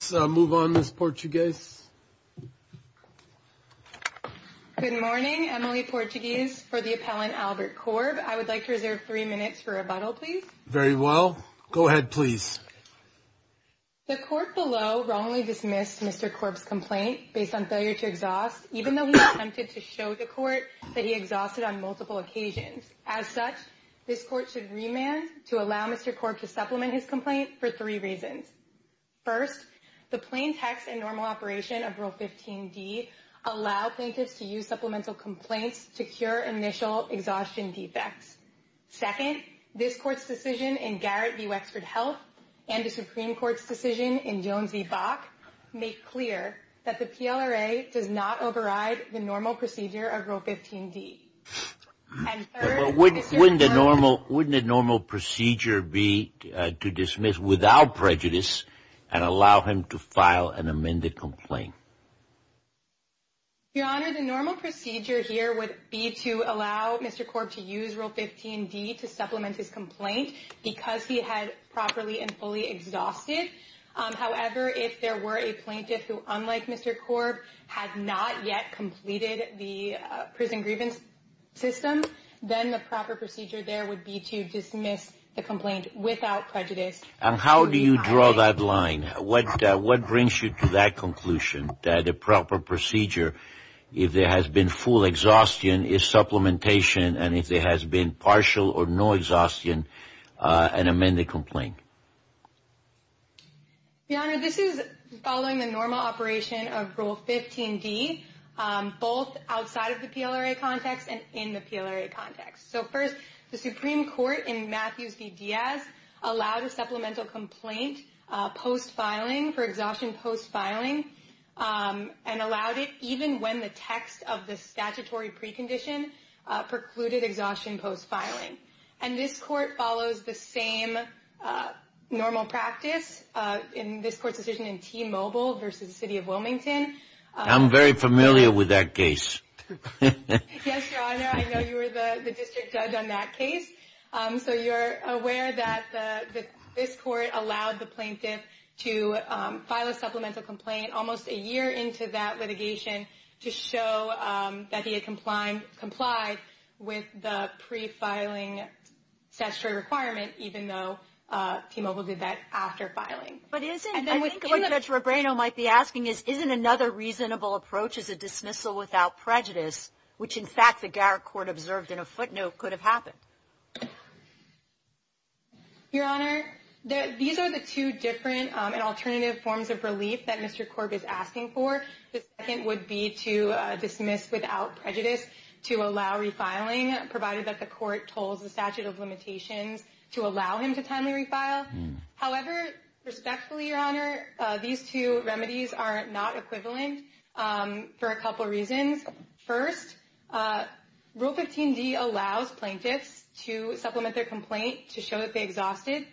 Let's move on, Ms. Portuguese. Good morning, Emily Portuguese for the appellant Albert Korb. I would like to reserve three minutes for rebuttal, please. Very well. Go ahead, please. The court below wrongly dismissed Mr. Korb's complaint based on failure to exhaust, even though he attempted to show the court that he exhausted on multiple occasions. As such, this court should remand to allow Mr. Korb to supplement his complaint for three reasons. First, the plain text and normal operation of Rule 15d allow plaintiffs to use supplemental complaints to cure initial exhaustion defects. Second, this court's decision in Garrett v. Wexford Health and the Supreme Court's decision in Jones v. Bach make clear that the PLRA does not override the normal procedure of Rule 15d. Wouldn't the normal procedure be to dismiss without prejudice and allow him to file an amended complaint? Your Honor, the normal procedure here would be to allow Mr. Korb to use Rule 15d to supplement his complaint because he had properly and fully exhausted. However, if there were a plaintiff who unlike Mr. Korb had not yet completed the prison grievance system, then the proper procedure there would be to dismiss the complaint without prejudice. And how do you draw that line? What brings you to that conclusion that the proper procedure, if there has been full exhaustion, is supplementation and if there has been partial or no exhaustion, an amended complaint? Your Honor, this is following the normal operation of Rule 15d, both outside of the PLRA context and in the PLRA context. So first, the Supreme Court in Matthews v. Diaz allowed a supplemental complaint post-filing for exhaustion post-filing and allowed it even when the text of the statutory precondition precluded exhaustion post-filing. And this Court follows the same normal practice in this Court's decision in T-Mobile v. City of Wilmington. I'm very familiar with that case. Yes, Your Honor, I know you were the district judge on that case. So you're aware that this Court allowed the plaintiff to file a supplemental complaint almost a year into that litigation to show that he had complied with the pre-filing statutory requirement, even though T-Mobile did that after filing. But isn't, I think what Judge Rebrano might be asking is, isn't another reasonable approach is a dismissal without prejudice, which in fact the Garrick Court observed in a footnote could have happened? Your Honor, these are the two different and alternative forms of relief that Mr. Corb is asking for. The second would be to dismiss without prejudice to allow refiling, provided that the Court told the statute of limitations to allow him to timely refile. However, respectfully, Your Honor, these two remedies are not equivalent for a couple reasons. First, Rule 15d allows plaintiffs to supplement their complaint to show that they exhausted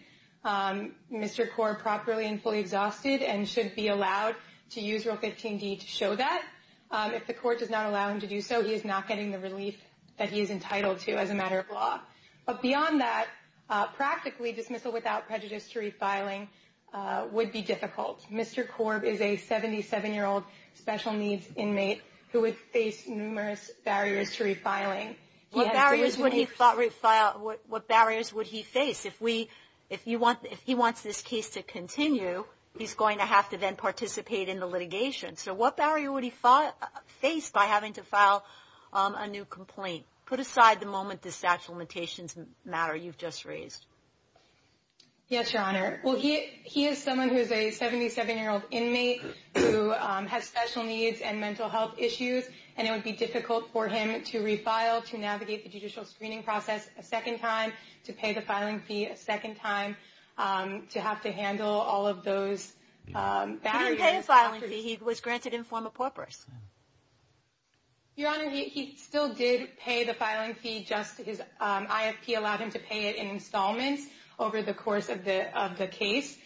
Mr. Corb properly and fully exhausted and should be allowed to use Rule 15d to show that. If the Court does not allow him to do so, he is not getting the relief that he is entitled to as a matter of law. But beyond that, practically dismissal without prejudice to refiling would be difficult. Mr. Corb is a 77-year-old special needs inmate who would face numerous barriers to refiling. What barriers would he face? If he wants this case to continue, he's going to have to then participate in the litigation. So what barrier would he face by having to file a new complaint? Put aside the moment the statute of limitations matter you've just raised. Yes, Your Honor. Well, he is someone who is a 77-year-old inmate who has special needs and mental health issues, and it would be difficult for him to refile, to navigate the judicial screening process a second time, to pay the filing fee a second time, to have to handle all of those barriers. He didn't pay the filing fee. He was granted informal purpose. Your Honor, he still did pay the filing fee. Just his IFP allowed him to pay it in installments over the course of the case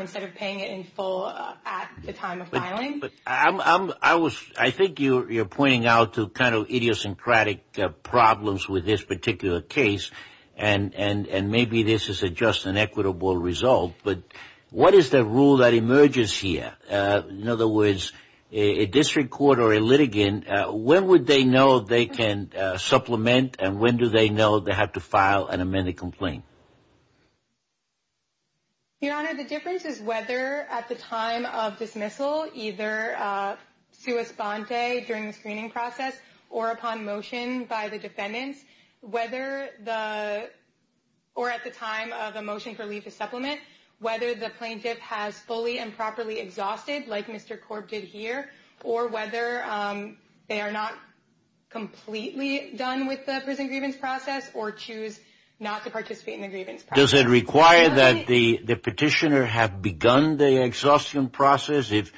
instead of paying it in full at the time of filing. I think you're pointing out to kind of idiosyncratic problems with this particular case, and maybe this is just an equitable result, but what is the rule that emerges here? In other words, a district court or a litigant, when would they know they can supplement and when do they know they have to file an amended complaint? Your Honor, the difference is whether at the time of dismissal, either sua sponte during the screening process or upon motion by the defendants, or at the time of a motion for leave to supplement, whether the plaintiff has fully and properly exhausted, like Mr. Korb did here, or whether they are not completely done with the prison grievance process or choose not to participate in the grievance process. Does it require that the petitioner have begun the exhaustion process if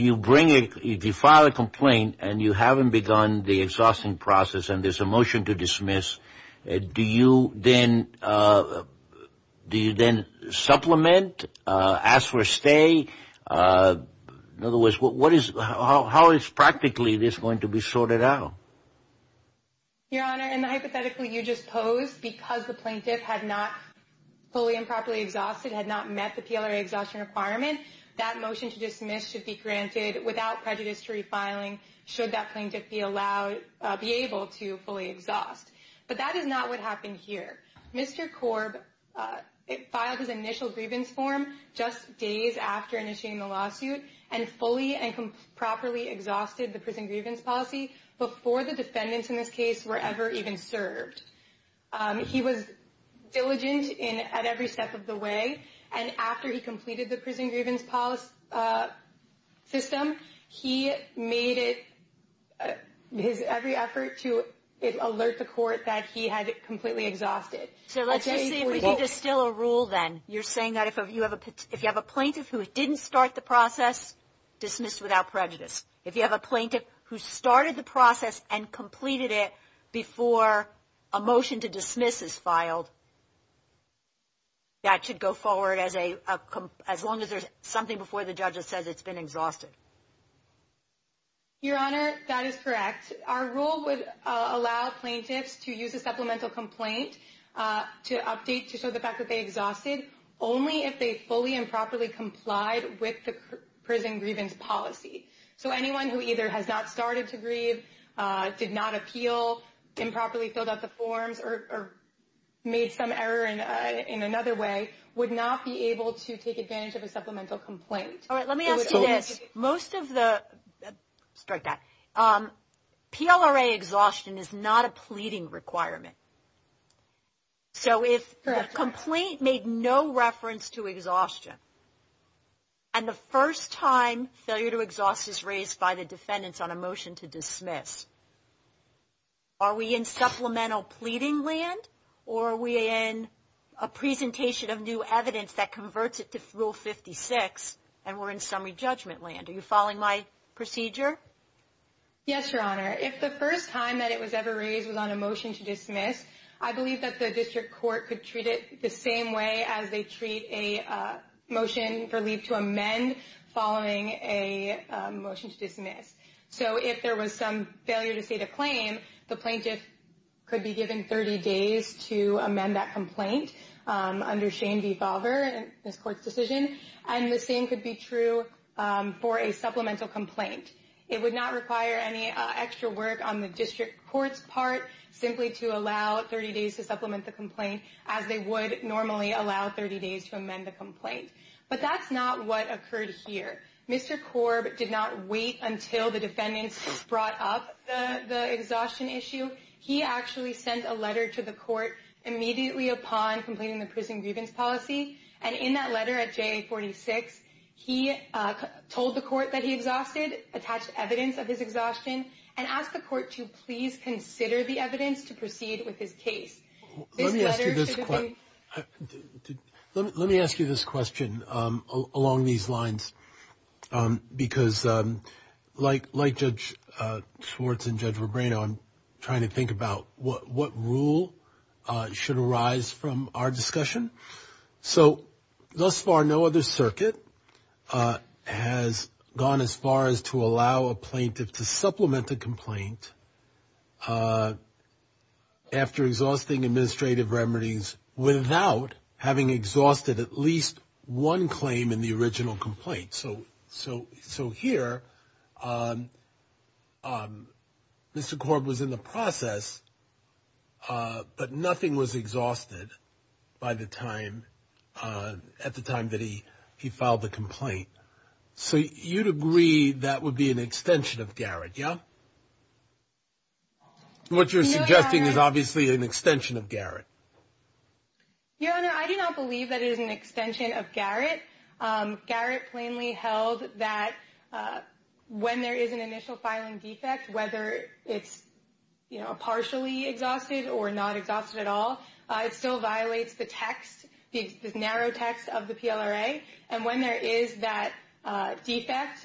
you file a complaint and you haven't begun the exhausting process and there's a motion to dismiss, do you then supplement, ask for a stay? In other words, how is practically this going to be sorted out? Your Honor, in the hypothetical you just posed, because the plaintiff had not fully and properly exhausted, had not met the PLRA exhaustion requirement, that motion to dismiss should be granted without prejudice to refiling should that plaintiff be able to fully exhaust. But that is not what happened here. Mr. Korb filed his initial grievance form just days after initiating the lawsuit and fully and properly exhausted the prison grievance policy before the defendants in this case were ever even served. He was diligent at every step of the way, and after he completed the prison grievance system, he made it his every effort to alert the court that he had completely exhausted. So let's just see if we can distill a rule then. You're saying that if you have a plaintiff who didn't start the process, dismissed without prejudice. If you have a plaintiff who started the process and completed it before a motion to dismiss is filed, that should go forward as long as there's something before the judge that says it's been exhausted. Your Honor, that is correct. Our rule would allow plaintiffs to use a supplemental complaint to update to show the fact that they exhausted only if they fully and properly complied with the prison grievance policy. So anyone who either has not started to grieve, did not appeal, improperly filled out the forms, or made some error in another way would not be able to take advantage of a supplemental complaint. All right, let me ask you this. Most of the – strike that. PLRA exhaustion is not a pleading requirement. So if the complaint made no reference to exhaustion and the first time failure to exhaust is raised by the defendants on a motion to dismiss, are we in supplemental pleading land or are we in a presentation of new evidence that converts it to Rule 56 and we're in summary judgment land? Are you following my procedure? Yes, Your Honor. If the first time that it was ever raised was on a motion to dismiss, I believe that the district court could treat it the same way as they treat a motion for leave to amend following a motion to dismiss. So if there was some failure to state a claim, the plaintiff could be given 30 days to amend that complaint under shame devolver in this court's decision, and the same could be true for a supplemental complaint. It would not require any extra work on the district court's part simply to allow 30 days to supplement the complaint as they would normally allow 30 days to amend the complaint. But that's not what occurred here. Mr. Korb did not wait until the defendants brought up the exhaustion issue. He actually sent a letter to the court immediately upon completing the prison grievance policy, and in that letter at J46, he told the court that he exhausted, attached evidence of his exhaustion, and asked the court to please consider the evidence to proceed with his case. This letter should have been- Let me ask you this question along these lines, because like Judge Schwartz and Judge Rebrano, I'm trying to think about what rule should arise from our discussion. So thus far, no other circuit has gone as far as to allow a plaintiff to supplement a complaint after exhausting administrative remedies without having exhausted at least one claim in the original complaint. So here, Mr. Korb was in the process, but nothing was exhausted at the time that he filed the complaint. So you'd agree that would be an extension of Garrett, yeah? What you're suggesting is obviously an extension of Garrett. Your Honor, I do not believe that it is an extension of Garrett. Garrett plainly held that when there is an initial filing defect, whether it's partially exhausted or not exhausted at all, it still violates the text, the narrow text of the PLRA. And when there is that defect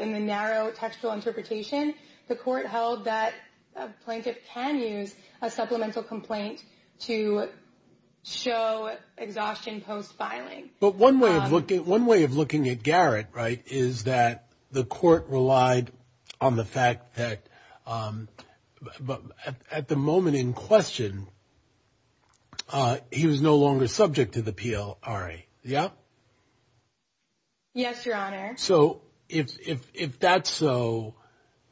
in the narrow textual interpretation, the court held that a plaintiff can use a supplemental complaint to show exhaustion post-filing. But one way of looking at Garrett, right, is that the court relied on the fact that at the moment in question, he was no longer subject to the PLRA, yeah? Yes, Your Honor. So if that's so,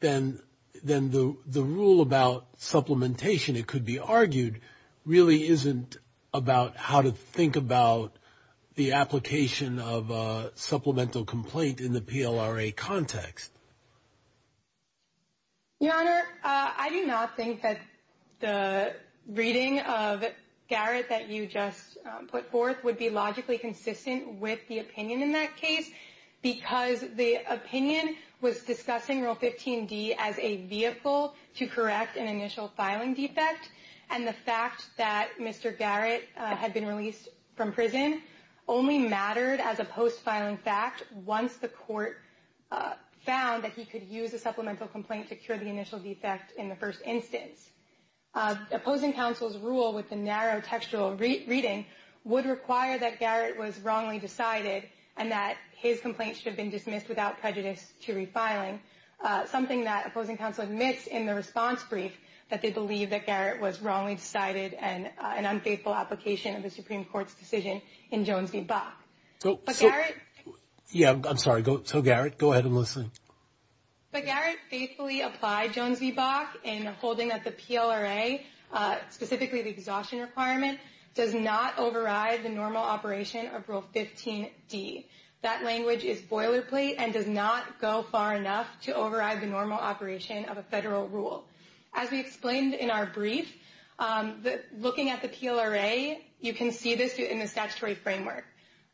then the rule about supplementation, it could be argued, really isn't about how to think about the application of a supplemental complaint in the PLRA context. Your Honor, I do not think that the reading of Garrett that you just put forth would be logically consistent with the opinion in that case because the opinion was discussing Rule 15d as a vehicle to correct an initial filing defect. And the fact that Mr. Garrett had been released from prison only mattered as a post-filing fact once the court found that he could use a supplemental complaint to cure the initial defect in the first instance. Opposing counsel's rule with the narrow textual reading would require that Garrett was wrongly decided and that his complaint should have been dismissed without prejudice to refiling, something that opposing counsel admits in the response brief, that they believe that Garrett was wrongly decided and an unfaithful application of the Supreme Court's decision in Jones v. Bach. Yeah, I'm sorry. So, Garrett, go ahead and listen. But Garrett faithfully applied Jones v. Bach in holding that the PLRA, specifically the exhaustion requirement, does not override the normal operation of Rule 15d. That language is boilerplate and does not go far enough to override the normal operation of a federal rule. As we explained in our brief, looking at the PLRA, you can see this in the statutory framework.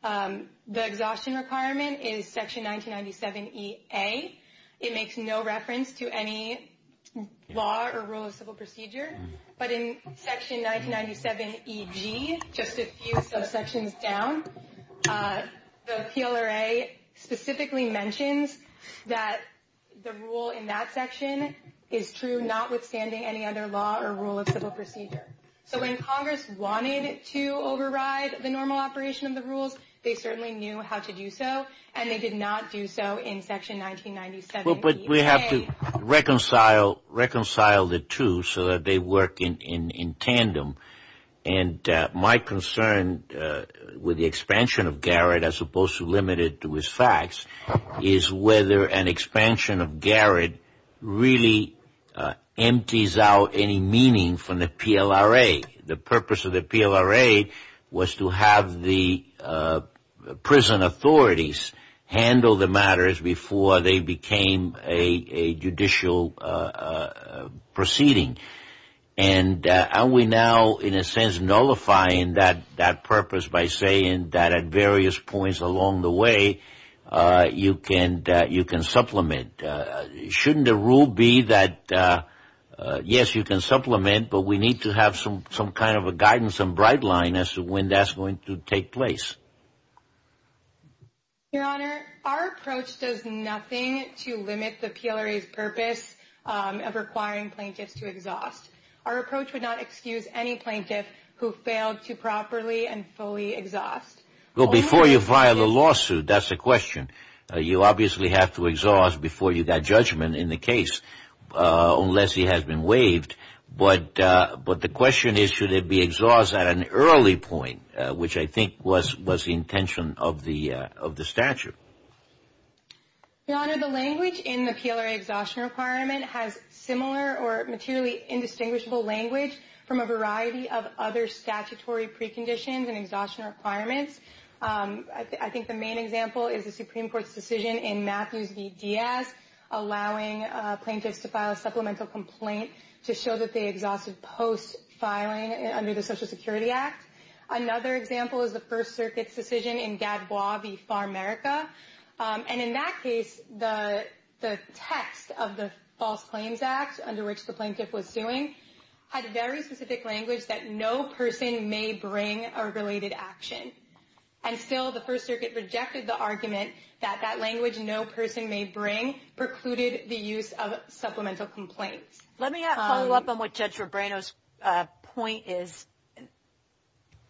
The exhaustion requirement is Section 1997EA. It makes no reference to any law or rule of civil procedure. But in Section 1997EG, just a few subsections down, the PLRA specifically mentions that the rule in that section is true, notwithstanding any other law or rule of civil procedure. So when Congress wanted to override the normal operation of the rules, they certainly knew how to do so, and they did not do so in Section 1997EA. But we have to reconcile the two so that they work in tandem. And my concern with the expansion of Garrett, as opposed to limit it to his facts, is whether an expansion of Garrett really empties out any meaning from the PLRA. The purpose of the PLRA was to have the prison authorities handle the matters before they became a judicial proceeding. And are we now in a sense nullifying that purpose by saying that at various points along the way, you can supplement? Shouldn't the rule be that, yes, you can supplement, but we need to have some kind of a guidance and bright line as to when that's going to take place? Your Honor, our approach does nothing to limit the PLRA's purpose of requiring plaintiffs to exhaust. Our approach would not excuse any plaintiff who failed to properly and fully exhaust. Well, before you file a lawsuit, that's a question. You obviously have to exhaust before you got judgment in the case, unless he has been waived. But the question is, should it be exhaust at an early point, which I think was the intention of the statute? Your Honor, the language in the PLRA exhaustion requirement has similar or materially indistinguishable language from a variety of other statutory preconditions and exhaustion requirements. I think the main example is the Supreme Court's decision in Matthews v. Diaz, allowing plaintiffs to file a supplemental complaint to show that they exhausted post-filing under the Social Security Act. Another example is the First Circuit's decision in Gadbois v. Farmerica. And in that case, the text of the False Claims Act, under which the plaintiff was suing, had very specific language that no person may bring a related action. And still, the First Circuit rejected the argument that that language, no person may bring, precluded the use of supplemental complaints. Let me follow up on what Judge Robrano's point is.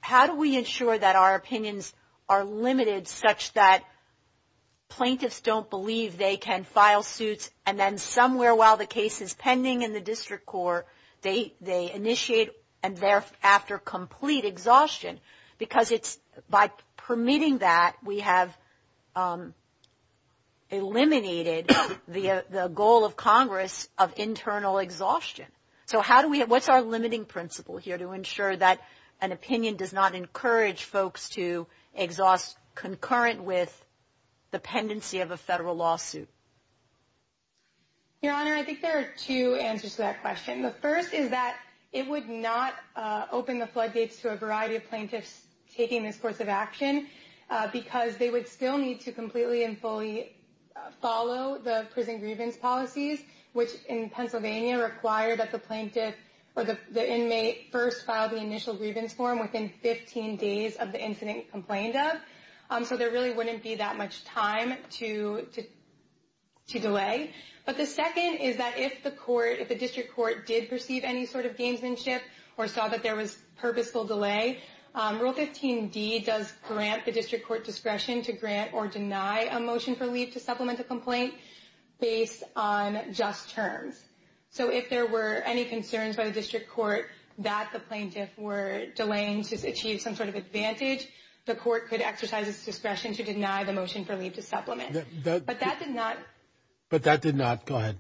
How do we ensure that our opinions are limited such that plaintiffs don't believe they can file suits, and then somewhere while the case is pending in the district court, they initiate and they're after complete exhaustion? Because it's, by permitting that, we have eliminated the goal of Congress of internal exhaustion. So how do we, what's our limiting principle here to ensure that an opinion does not encourage folks to exhaust concurrent with the pendency of a federal lawsuit? Your Honor, I think there are two answers to that question. The first is that it would not open the floodgates to a variety of plaintiffs taking this course of action, because they would still need to completely and fully follow the prison grievance policies, which in Pennsylvania require that the plaintiff or the inmate first file the initial grievance form within 15 days of the incident complained of. So there really wouldn't be that much time to delay. But the second is that if the court, if the district court did perceive any sort of gamesmanship or saw that there was purposeful delay, Rule 15d does grant the district court discretion to grant or deny a motion for leave to supplement a complaint based on just terms. So if there were any concerns by the district court that the plaintiff were delaying to achieve some sort of advantage, the court could exercise its discretion to deny the motion for leave to supplement. But that did not. But that did not. Go ahead.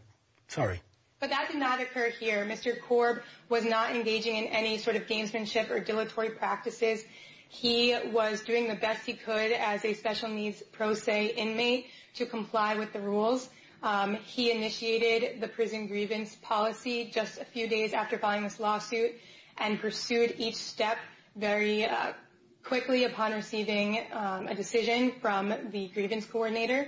Sorry. But that did not occur here. Mr. Korb was not engaging in any sort of gamesmanship or dilatory practices. He was doing the best he could as a special needs pro se inmate to comply with the rules. He initiated the prison grievance policy just a few days after filing this lawsuit and pursued each step very quickly upon receiving a decision from the grievance coordinator.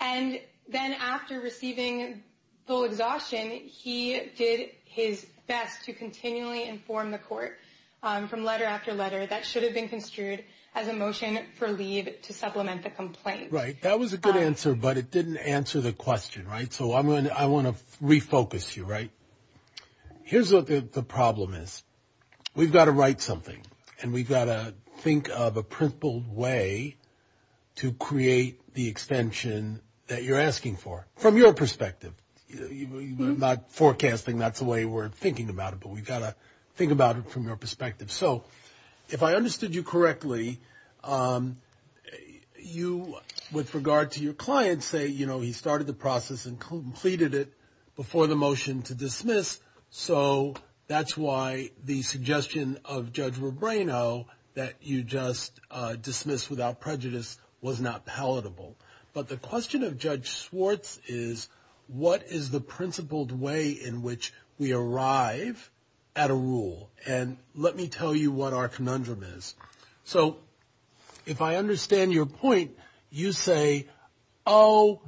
And then after receiving full exhaustion, he did his best to continually inform the court from letter after letter that should have been construed as a motion for leave to supplement the complaint. Right. That was a good answer, but it didn't answer the question. Right. So I want to refocus you. Right. Here's what the problem is. We've got to write something and we've got to think of a principled way to create the extension that you're asking for. From your perspective, not forecasting, that's the way we're thinking about it, but we've got to think about it from your perspective. So if I understood you correctly, you, with regard to your client, say, you know, he started the process and completed it before the motion to dismiss. So that's why the suggestion of Judge Rebrano that you just dismiss without prejudice was not palatable. But the question of Judge Swartz is, what is the principled way in which we arrive at a rule? And let me tell you what our conundrum is. So if I understand your point, you say, oh,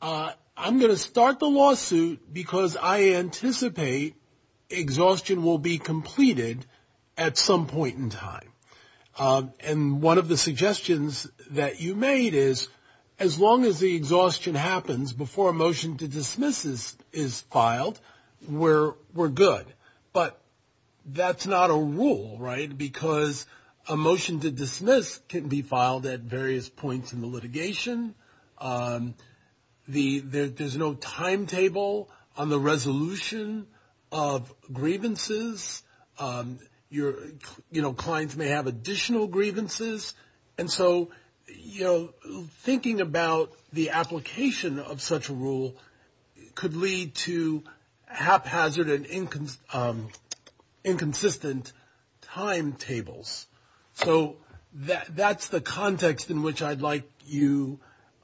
I'm going to start the lawsuit because I anticipate exhaustion will be completed at some point in time. And one of the suggestions that you made is as long as the exhaustion happens before a motion to dismiss is filed, we're good. But that's not a rule, right? Because a motion to dismiss can be filed at various points in the litigation. There's no timetable on the resolution of grievances. Your clients may have additional grievances. And so, you know, thinking about the application of such a rule could lead to haphazard and inconsistent timetables. So that's the context in which I'd like you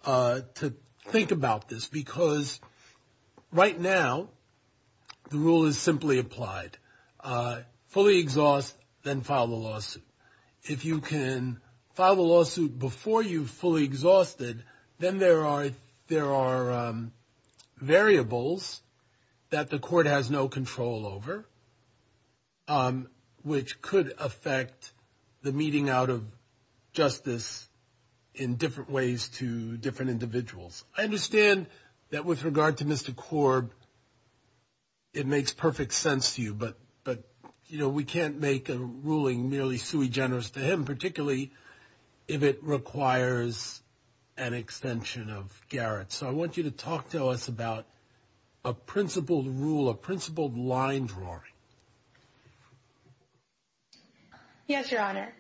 to think about this, because right now the rule is simply applied. Fully exhaust, then file the lawsuit. If you can file the lawsuit before you fully exhausted, then there are variables that the court has no control over, which could affect the meeting out of justice in different ways to different individuals. I understand that with regard to Mr. Korb, it makes perfect sense to you. But, you know, we can't make a ruling merely sui generis to him, particularly if it requires an extension of Garrett. So I want you to talk to us about a principled rule, a principled line drawing. Yes, Your Honor.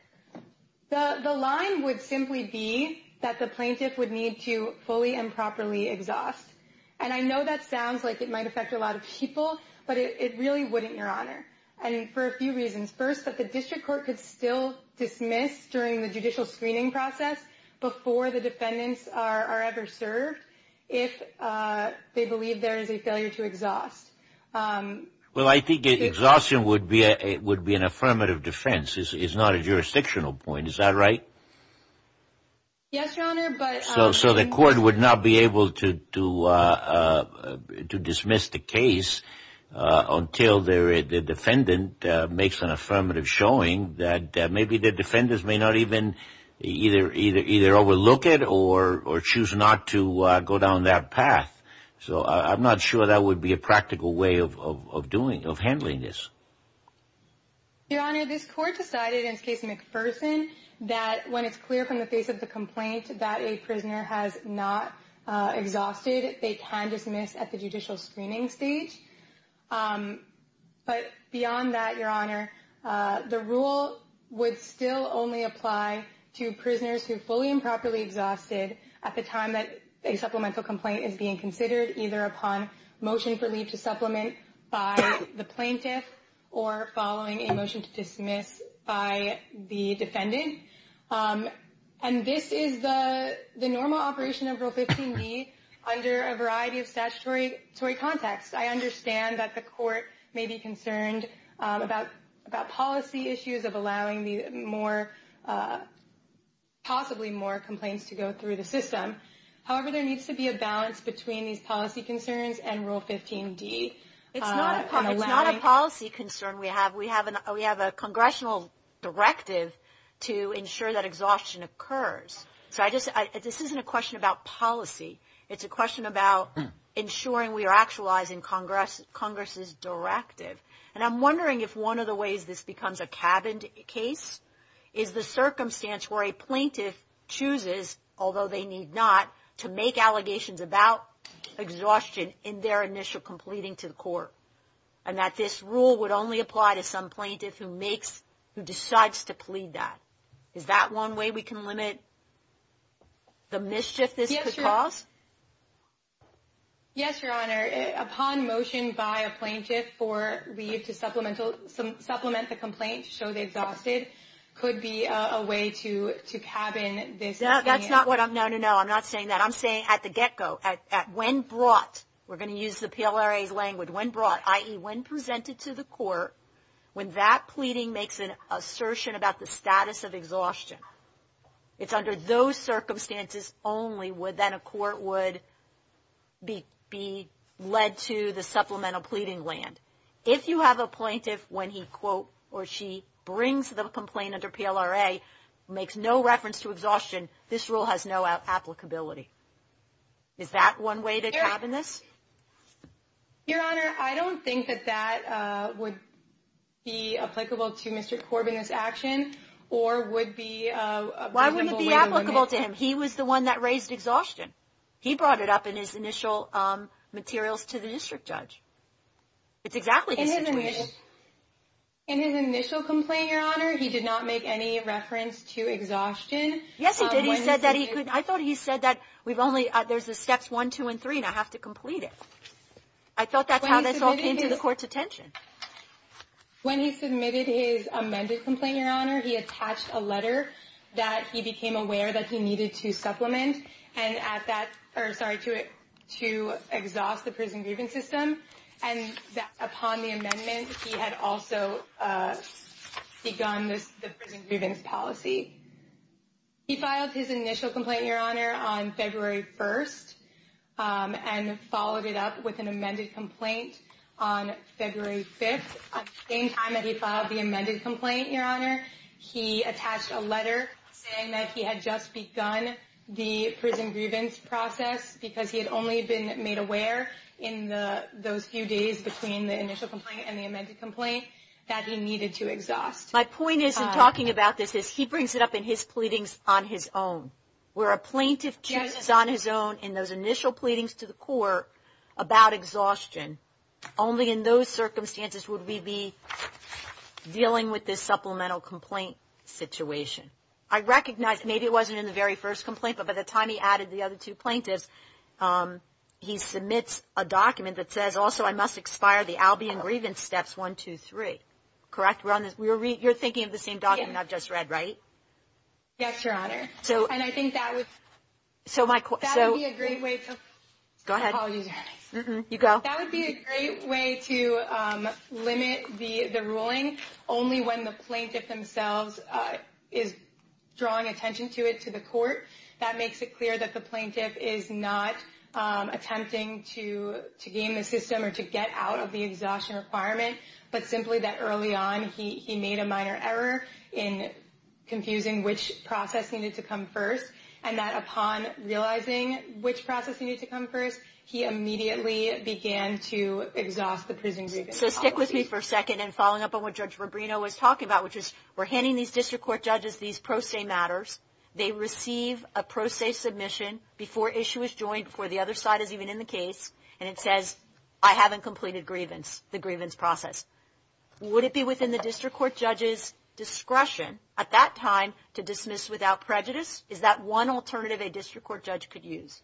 The line would simply be that the plaintiff would need to fully and properly exhaust. And I know that sounds like it might affect a lot of people, but it really wouldn't, Your Honor, and for a few reasons. First, that the district court could still dismiss during the judicial screening process before the defendants are ever served if they believe there is a failure to exhaust. Well, I think exhaustion would be an affirmative defense. It's not a jurisdictional point. Is that right? Yes, Your Honor. So the court would not be able to dismiss the case until the defendant makes an affirmative showing that maybe the defendants may not even either overlook it or choose not to go down that path. So I'm not sure that would be a practical way of doing, of handling this. Your Honor, this court decided in the case of McPherson that when it's clear from the face of the complaint that a prisoner has not exhausted, they can dismiss at the judicial screening stage. But beyond that, Your Honor, the rule would still only apply to prisoners who fully and properly exhausted at the time that a supplemental complaint is being considered, either upon motion for leave to supplement by the plaintiff or following a motion to dismiss by the defendant. And this is the normal operation of Rule 15b under a variety of statutory contexts. I understand that the court may be concerned about policy issues of allowing possibly more complaints to go through the system. However, there needs to be a balance between these policy concerns and Rule 15d. It's not a policy concern we have. We have a congressional directive to ensure that exhaustion occurs. So this isn't a question about policy. It's a question about ensuring we are actualizing Congress's directive. And I'm wondering if one of the ways this becomes a cabin case is the circumstance where a plaintiff chooses, although they need not, to make allegations about exhaustion in their initial completing to the court, and that this rule would only apply to some plaintiff who decides to plead that. Is that one way we can limit the mischief this could cause? Yes, Your Honor. Upon motion by a plaintiff for leave to supplement the complaint, show they've exhausted, could be a way to cabin this. No, that's not what I'm – no, no, no. I'm not saying that. I'm saying at the get-go, when brought – we're going to use the PLRA's language – when brought, i.e., when presented to the court, when that pleading makes an assertion about the status of exhaustion, it's under those circumstances only that a court would be led to the supplemental pleading land. If you have a plaintiff when he, quote, or she brings the complaint under PLRA, makes no reference to exhaustion, this rule has no applicability. Is that one way to cabin this? Your Honor, I don't think that that would be applicable to Mr. Corbin, this action, or would be a reasonable way to limit. Why wouldn't it be applicable to him? He was the one that raised exhaustion. He brought it up in his initial materials to the district judge. It's exactly the situation. In his initial complaint, Your Honor, he did not make any reference to exhaustion. Yes, he did. I thought he said that we've only – there's the steps one, two, and three, and I have to complete it. I thought that's how this all came to the court's attention. When he submitted his amended complaint, Your Honor, he attached a letter that he became aware that he needed to supplement and at that – or, sorry, to exhaust the prison grievance system. And upon the amendment, he had also begun the prison grievance policy. He filed his initial complaint, Your Honor, on February 1st and followed it up with an amended complaint on February 5th. At the same time that he filed the amended complaint, Your Honor, he attached a letter saying that he had just begun the prison grievance process because he had only been made aware in those few days between the initial complaint and the amended complaint that he needed to exhaust. My point is in talking about this is he brings it up in his pleadings on his own. Where a plaintiff chooses on his own in those initial pleadings to the court about exhaustion, only in those circumstances would we be dealing with this supplemental complaint situation. I recognize maybe it wasn't in the very first complaint, but by the time he added the other two plaintiffs, he submits a document that says also I must expire the Albion grievance steps one, two, three. Correct? You're thinking of the same document I've just read, right? Yes, Your Honor. And I think that would be a great way to limit the ruling only when the plaintiff themselves is drawing attention to it to the court. That makes it clear that the plaintiff is not attempting to game the system or to get out of the exhaustion requirement, but simply that early on he made a minor error in confusing which process needed to come first and that upon realizing which process needed to come first, he immediately began to exhaust the prison grievance policy. So stick with me for a second in following up on what Judge Rubino was talking about, which is we're handing these district court judges these pro se matters. They receive a pro se submission before issue is joined, before the other side is even in the case, and it says I haven't completed the grievance process. Would it be within the district court judge's discretion at that time to dismiss without prejudice? Is that one alternative a district court judge could use?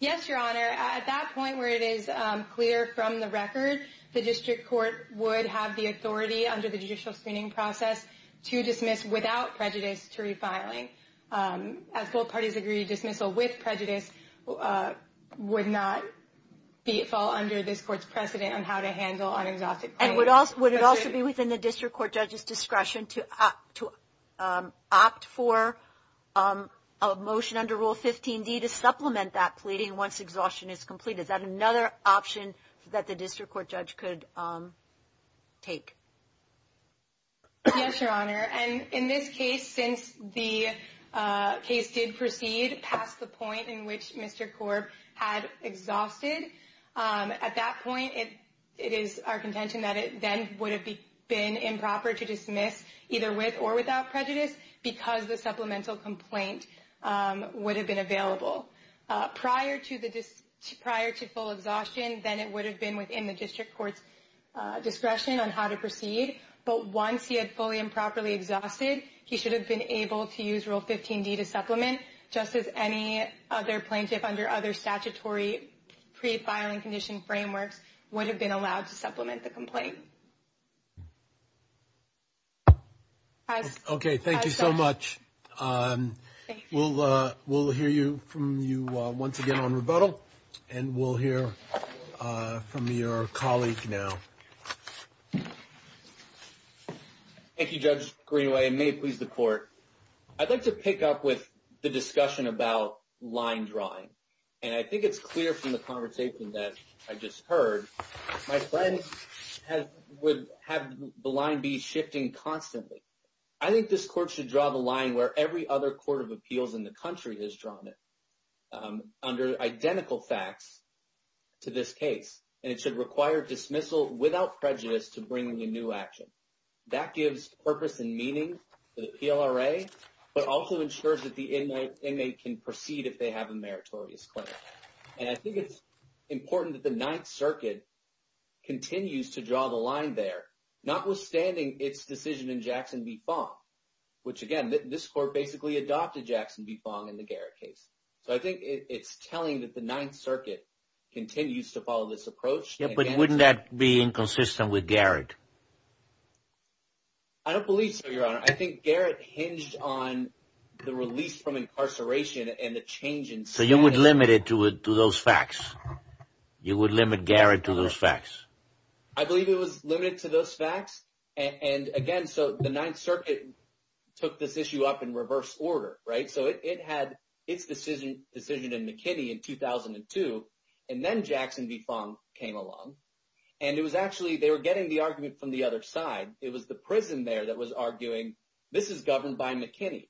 Yes, Your Honor. At that point where it is clear from the record, the district court would have the authority under the judicial screening process to dismiss without prejudice to refiling. As both parties agree, dismissal with prejudice would not fall under this court's precedent on how to handle an exhausted plaintiff. And would it also be within the district court judge's discretion to opt for a motion under Rule 15d to supplement that pleading once exhaustion is complete? Is that another option that the district court judge could take? Yes, Your Honor. And in this case, since the case did proceed past the point in which Mr. Korb had exhausted, at that point it is our contention that it then would have been improper to dismiss either with or without prejudice because the supplemental complaint would have been available. Prior to full exhaustion, then it would have been within the district court's discretion on how to proceed. But once he had fully and properly exhausted, he should have been able to use Rule 15d to supplement, just as any other plaintiff under other statutory pre-filing condition frameworks would have been allowed to supplement the complaint. Okay. Thank you so much. And we'll hear from your colleague now. Thank you, Judge Greenaway, and may it please the Court. I'd like to pick up with the discussion about line drawing. And I think it's clear from the conversation that I just heard my friend would have the line be shifting constantly. I think this court should draw the line where every other court of appeals in the country has drawn it, under identical facts, to this case. And it should require dismissal without prejudice to bring in a new action. That gives purpose and meaning to the PLRA, but also ensures that the inmate can proceed if they have a meritorious claim. And I think it's important that the Ninth Circuit continues to draw the line there, notwithstanding its decision in Jackson v. Fong, which, again, this court basically adopted Jackson v. Fong in the Garrett case. So I think it's telling that the Ninth Circuit continues to follow this approach. Yeah, but wouldn't that be inconsistent with Garrett? I don't believe so, Your Honor. I think Garrett hinged on the release from incarceration and the change in status. So you would limit it to those facts? You would limit Garrett to those facts? I believe it was limited to those facts. And, again, so the Ninth Circuit took this issue up in reverse order, right? So it had its decision in McKinney in 2002, and then Jackson v. Fong came along. And it was actually they were getting the argument from the other side. It was the prison there that was arguing this is governed by McKinney.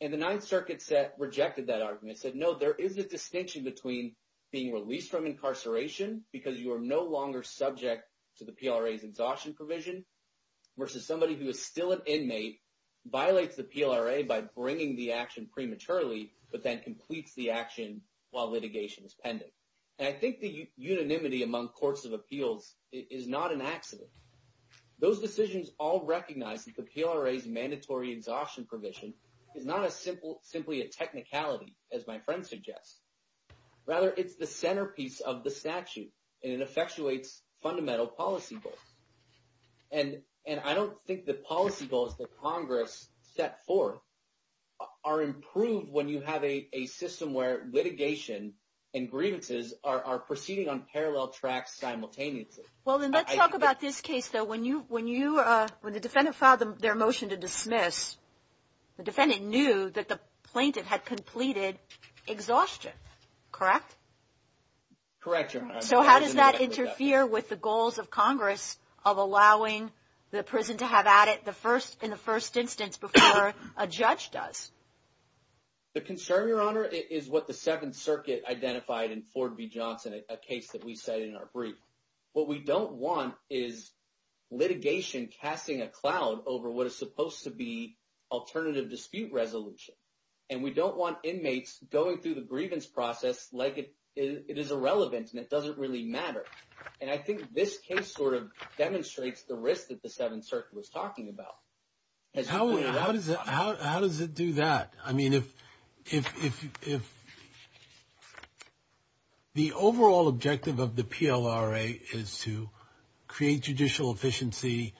And the Ninth Circuit rejected that argument, said, no, there is a distinction between being released from incarceration because you are no longer subject to the PLRA's exhaustion provision. Versus somebody who is still an inmate, violates the PLRA by bringing the action prematurely, but then completes the action while litigation is pending. And I think the unanimity among courts of appeals is not an accident. Those decisions all recognize that the PLRA's mandatory exhaustion provision is not simply a technicality, as my friend suggests. Rather, it's the centerpiece of the statute, and it effectuates fundamental policy goals. And I don't think the policy goals that Congress set forth are improved when you have a system where litigation and grievances are proceeding on parallel tracks simultaneously. Well, then let's talk about this case, though. When you when you when the defendant filed their motion to dismiss, the defendant knew that the plaintiff had completed exhaustion, correct? Correct. So how does that interfere with the goals of Congress of allowing the prison to have at it the first in the first instance before a judge does? The concern, Your Honor, is what the Second Circuit identified in Ford v. Johnson, a case that we said in our brief. What we don't want is litigation casting a cloud over what is supposed to be alternative dispute resolution. And we don't want inmates going through the grievance process like it is irrelevant and it doesn't really matter. And I think this case sort of demonstrates the risk that the Seventh Circuit was talking about. How does it how does it do that? I mean, if if if if. The overall objective of the PLRA is to create judicial efficiency,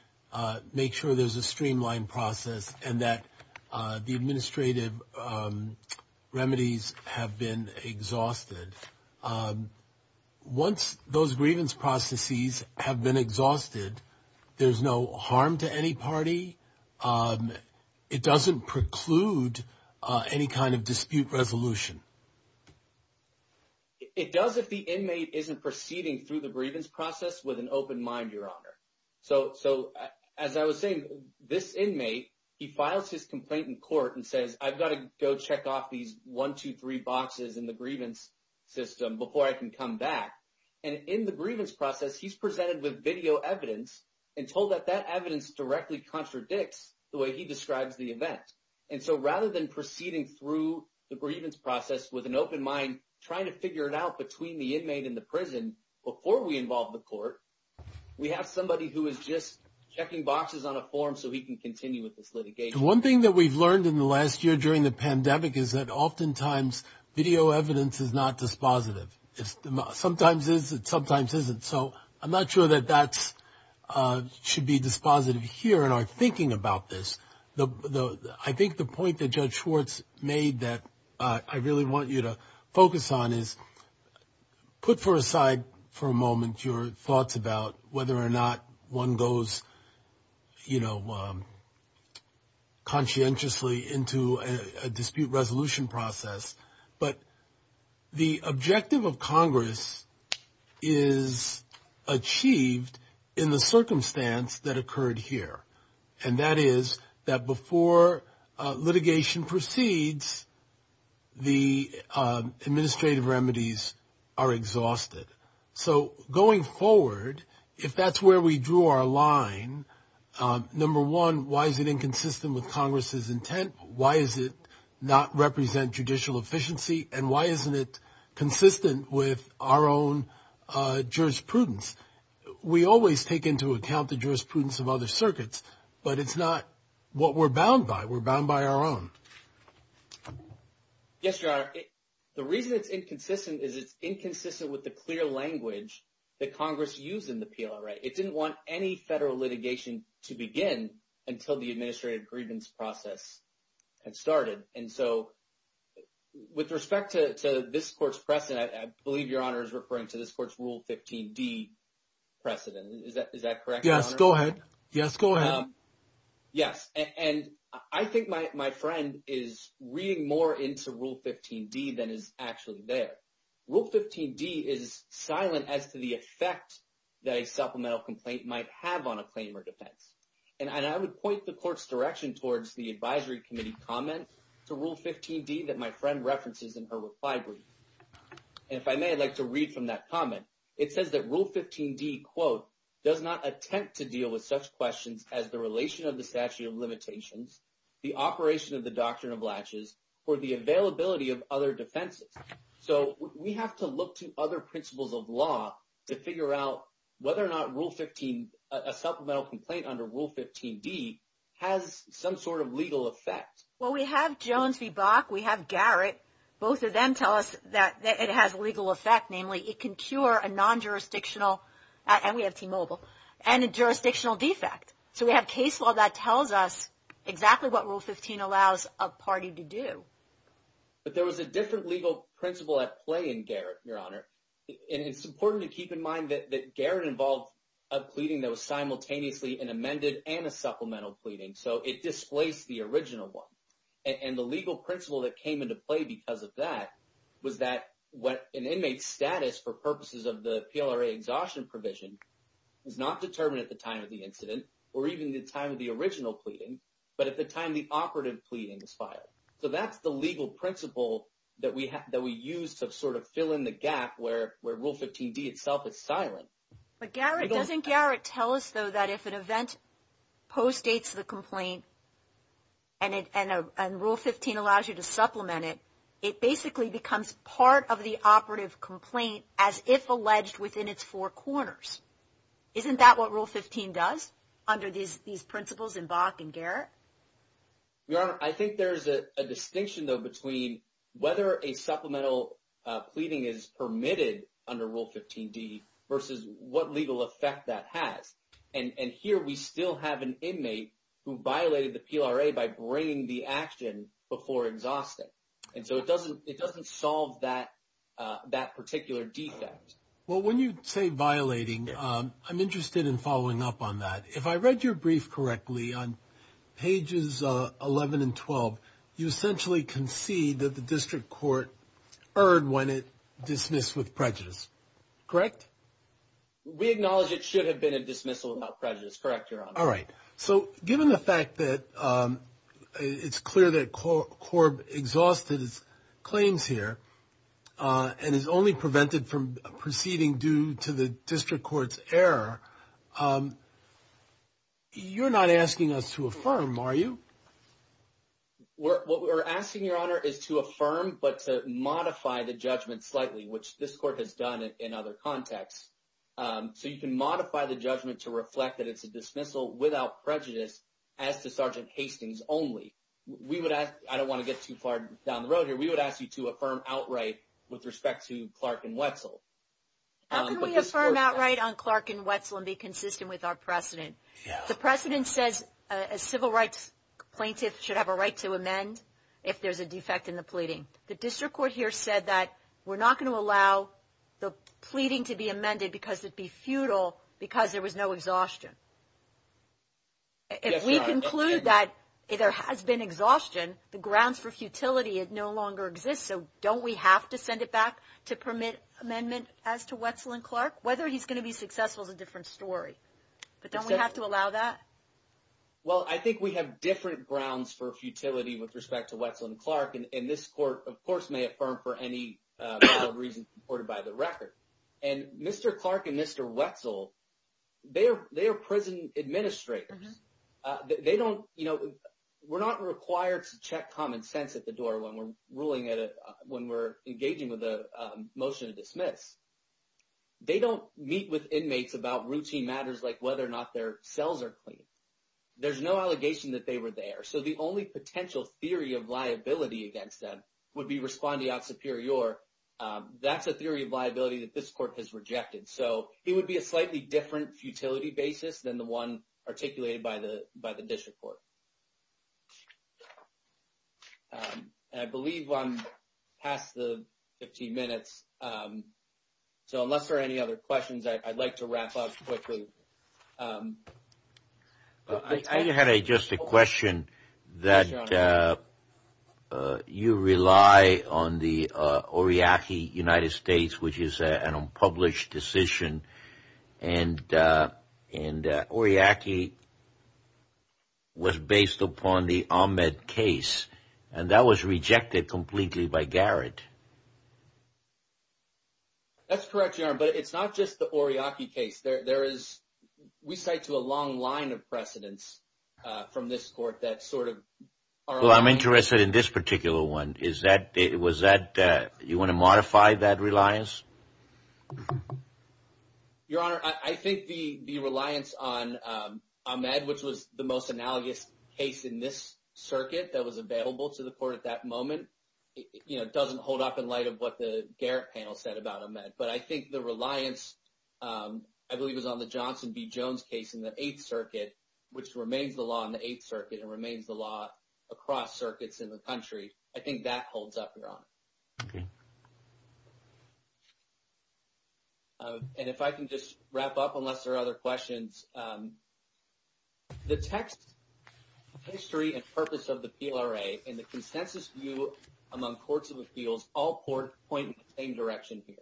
make sure there's a streamlined process and that the administrative remedies have been exhausted. Once those grievance processes have been exhausted, there's no harm to any party. It doesn't preclude any kind of dispute resolution. It does, if the inmate isn't proceeding through the grievance process with an open mind, Your Honor. So so as I was saying, this inmate, he files his complaint in court and says, I've got to go check off these one, two, three boxes in the grievance system before I can come back. And in the grievance process, he's presented with video evidence and told that that evidence directly contradicts the way he describes the event. And so rather than proceeding through the grievance process with an open mind, trying to figure it out between the inmate in the prison before we involve the court. We have somebody who is just checking boxes on a form so he can continue with this litigation. One thing that we've learned in the last year during the pandemic is that oftentimes video evidence is not dispositive. Sometimes is it sometimes isn't. So I'm not sure that that's should be dispositive here in our thinking about this. I think the point that Judge Schwartz made that I really want you to focus on is put for aside for a moment your thoughts about whether or not one goes, you know, conscientiously into a dispute resolution process. But the objective of Congress is achieved in the circumstance that occurred here. And that is that before litigation proceeds, the administrative remedies are exhausted. So going forward, if that's where we drew our line, number one, why is it inconsistent with Congress's intent? Why is it not represent judicial efficiency and why isn't it consistent with our own jurisprudence? We always take into account the jurisprudence of other circuits, but it's not what we're bound by. We're bound by our own. Yes, you are. The reason it's inconsistent is it's inconsistent with the clear language that Congress used in the appeal. Right. It didn't want any federal litigation to begin until the administrative grievance process had started. And so with respect to this court's precedent, I believe your honor is referring to this court's Rule 15 D precedent. Is that is that correct? Yes. Go ahead. Yes. Go ahead. Yes. And I think my friend is reading more into Rule 15 D than is actually there. Rule 15 D is silent as to the effect that a supplemental complaint might have on a claim or defense. And I would point the court's direction towards the advisory committee comment to Rule 15 D that my friend references in her reply brief. And if I may, I'd like to read from that comment. It says that Rule 15 D, quote, does not attempt to deal with such questions as the relation of the statute of limitations, the operation of the doctrine of latches, or the availability of other defenses. So we have to look to other principles of law to figure out whether or not Rule 15, a supplemental complaint under Rule 15 D, has some sort of legal effect. Well, we have Jones v. Bach. We have Garrett. Both of them tell us that it has legal effect. Namely, it can cure a non-jurisdictional, and we have T-Mobile, and a jurisdictional defect. So we have case law that tells us exactly what Rule 15 allows a party to do. But there was a different legal principle at play in Garrett, your honor. And it's important to keep in mind that Garrett involved a pleading that was simultaneously an amended and a supplemental pleading. So it displaced the original one. And the legal principle that came into play because of that was that an inmate's status for purposes of the PLRA exhaustion provision is not determined at the time of the incident or even the time of the original pleading, but at the time the operative pleading is filed. So that's the legal principle that we use to sort of fill in the gap where Rule 15 D itself is silent. But Garrett, doesn't Garrett tell us, though, that if an event postdates the complaint and Rule 15 allows you to supplement it, it basically becomes part of the operative complaint as if alleged within its four corners. Isn't that what Rule 15 does under these principles in Bach and Garrett? Your honor, I think there's a distinction, though, between whether a supplemental pleading is permitted under Rule 15 D and what legal effect that has. And here we still have an inmate who violated the PLRA by bringing the action before exhausting. And so it doesn't solve that particular defect. Well, when you say violating, I'm interested in following up on that. If I read your brief correctly on pages 11 and 12, you essentially concede that the district court erred when it dismissed with prejudice. Correct? We acknowledge it should have been a dismissal without prejudice. Correct, your honor. All right. So given the fact that it's clear that Corb exhausted his claims here and is only prevented from proceeding due to the district court's error, you're not asking us to affirm, are you? What we're asking, your honor, is to affirm but to modify the judgment slightly, which this court has done in other contexts. So you can modify the judgment to reflect that it's a dismissal without prejudice as to Sergeant Hastings only. I don't want to get too far down the road here. We would ask you to affirm outright with respect to Clark and Wetzel. How can we affirm outright on Clark and Wetzel and be consistent with our precedent? The precedent says a civil rights plaintiff should have a right to amend if there's a defect in the pleading. The district court here said that we're not going to allow the pleading to be amended because it'd be futile because there was no exhaustion. If we conclude that there has been exhaustion, the grounds for futility no longer exist. So don't we have to send it back to permit amendment as to Wetzel and Clark? Whether he's going to be successful is a different story, but don't we have to allow that? Well, I think we have different grounds for futility with respect to Wetzel and Clark, and this court, of course, may affirm for any reason supported by the record. And Mr. Clark and Mr. Wetzel, they are prison administrators. We're not required to check common sense at the door when we're engaging with a motion to dismiss. They don't meet with inmates about routine matters like whether or not their cells are clean. There's no allegation that they were there. So the only potential theory of liability against them would be respondeat superior. That's a theory of liability that this court has rejected. So it would be a slightly different futility basis than the one articulated by the district court. I believe I'm past the 15 minutes. So unless there are any other questions, I'd like to wrap up quickly. I had just a question that you rely on the Oriaki United States, which is an unpublished decision. And Oriaki was based upon the Ahmed case, and that was rejected completely by Garrett. That's correct, Your Honor, but it's not just the Oriaki case. There is, we cite to a long line of precedents from this court that sort of. Well, I'm interested in this particular one. Is that it was that you want to modify that reliance? Your Honor, I think the reliance on Ahmed, which was the most analogous case in this circuit that was available to the court at that moment. It doesn't hold up in light of what the Garrett panel said about Ahmed. But I think the reliance, I believe, was on the Johnson B. Jones case in the Eighth Circuit, which remains the law in the Eighth Circuit and remains the law across circuits in the country. I think that holds up, Your Honor. Okay. And if I can just wrap up, unless there are other questions. The text, history and purpose of the PLRA and the consensus view among courts of appeals all point in the same direction here.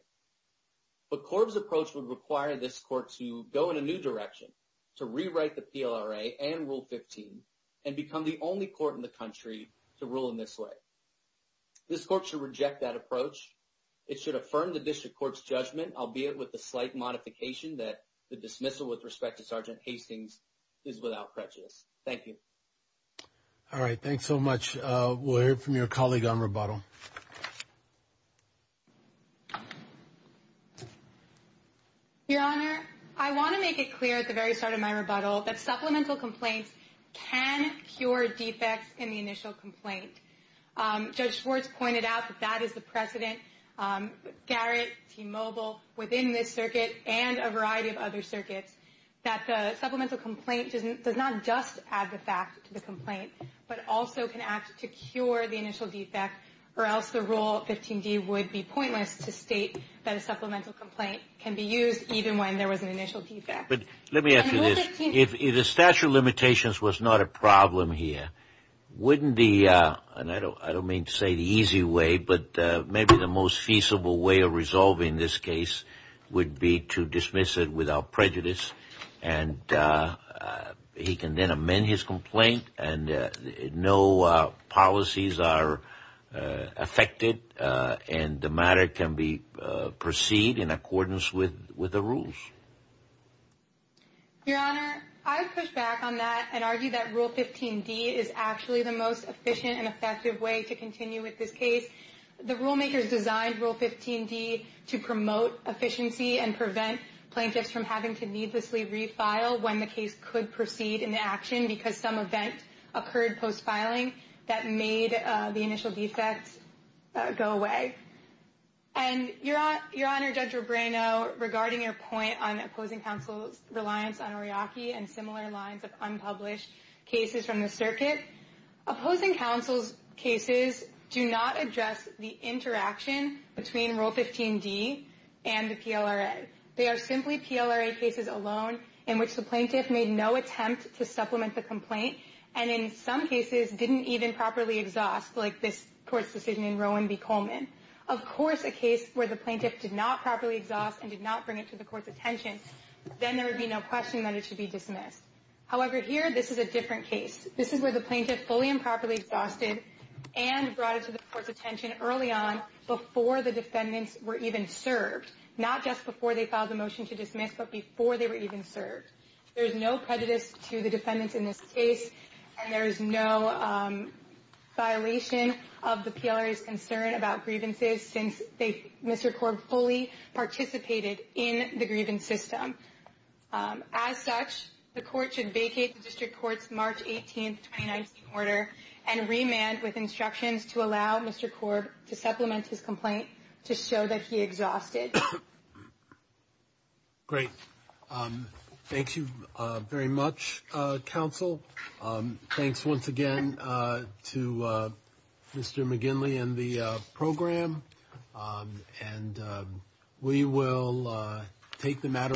But Korb's approach would require this court to go in a new direction, to rewrite the PLRA and Rule 15 and become the only court in the country to rule in this way. This court should reject that approach. It should affirm the district court's judgment, albeit with the slight modification that the dismissal with respect to Sergeant Hastings is without prejudice. Thank you. All right. Thanks so much. We'll hear from your colleague on rebuttal. Your Honor, I want to make it clear at the very start of my rebuttal that supplemental complaints can cure defects in the initial complaint. Judge Schwartz pointed out that that is the precedent, Garrett, T-Mobile, within this circuit and a variety of other circuits, that the supplemental complaint does not just add the fact to the complaint but also can act to cure the initial defect or else the Rule 15d would be pointless to state that a supplemental complaint can be used even when there was an initial defect. But let me ask you this. If the statute of limitations was not a problem here, wouldn't the, and I don't mean to say the easy way, but maybe the most feasible way of resolving this case would be to dismiss it without prejudice and he can then amend his complaint and no policies are affected and the matter can proceed in accordance with the rules. Your Honor, I push back on that and argue that Rule 15d is actually the most efficient and effective way to continue with this case. The rulemakers designed Rule 15d to promote efficiency and prevent plaintiffs from having to needlessly refile when the case could proceed into action because some event occurred post-filing that made the initial defects go away. And Your Honor, Judge Robrano, regarding your point on opposing counsel's reliance on Ariake and similar lines of unpublished cases from the circuit, opposing counsel's cases do not address the interaction between Rule 15d and the PLRA. They are simply PLRA cases alone in which the plaintiff made no attempt to supplement the complaint and in some cases didn't even properly exhaust like this court's decision in Rowan v. Coleman. Of course, a case where the plaintiff did not properly exhaust and did not bring it to the court's attention, then there would be no question that it should be dismissed. However, here this is a different case. This is where the plaintiff fully and properly exhausted and brought it to the court's attention early on before the defendants were even served. Not just before they filed the motion to dismiss, but before they were even served. There is no prejudice to the defendants in this case and there is no violation of the PLRA's concern about grievances since Mr. Korb fully participated in the grievance system. As such, the court should vacate the district court's March 18th, 2019 order and remand with instructions to allow Mr. Korb to supplement his complaint to show that he exhausted. Great. Thank you very much, counsel. Thanks once again to Mr. McGinley and the program. And we will take the matter up.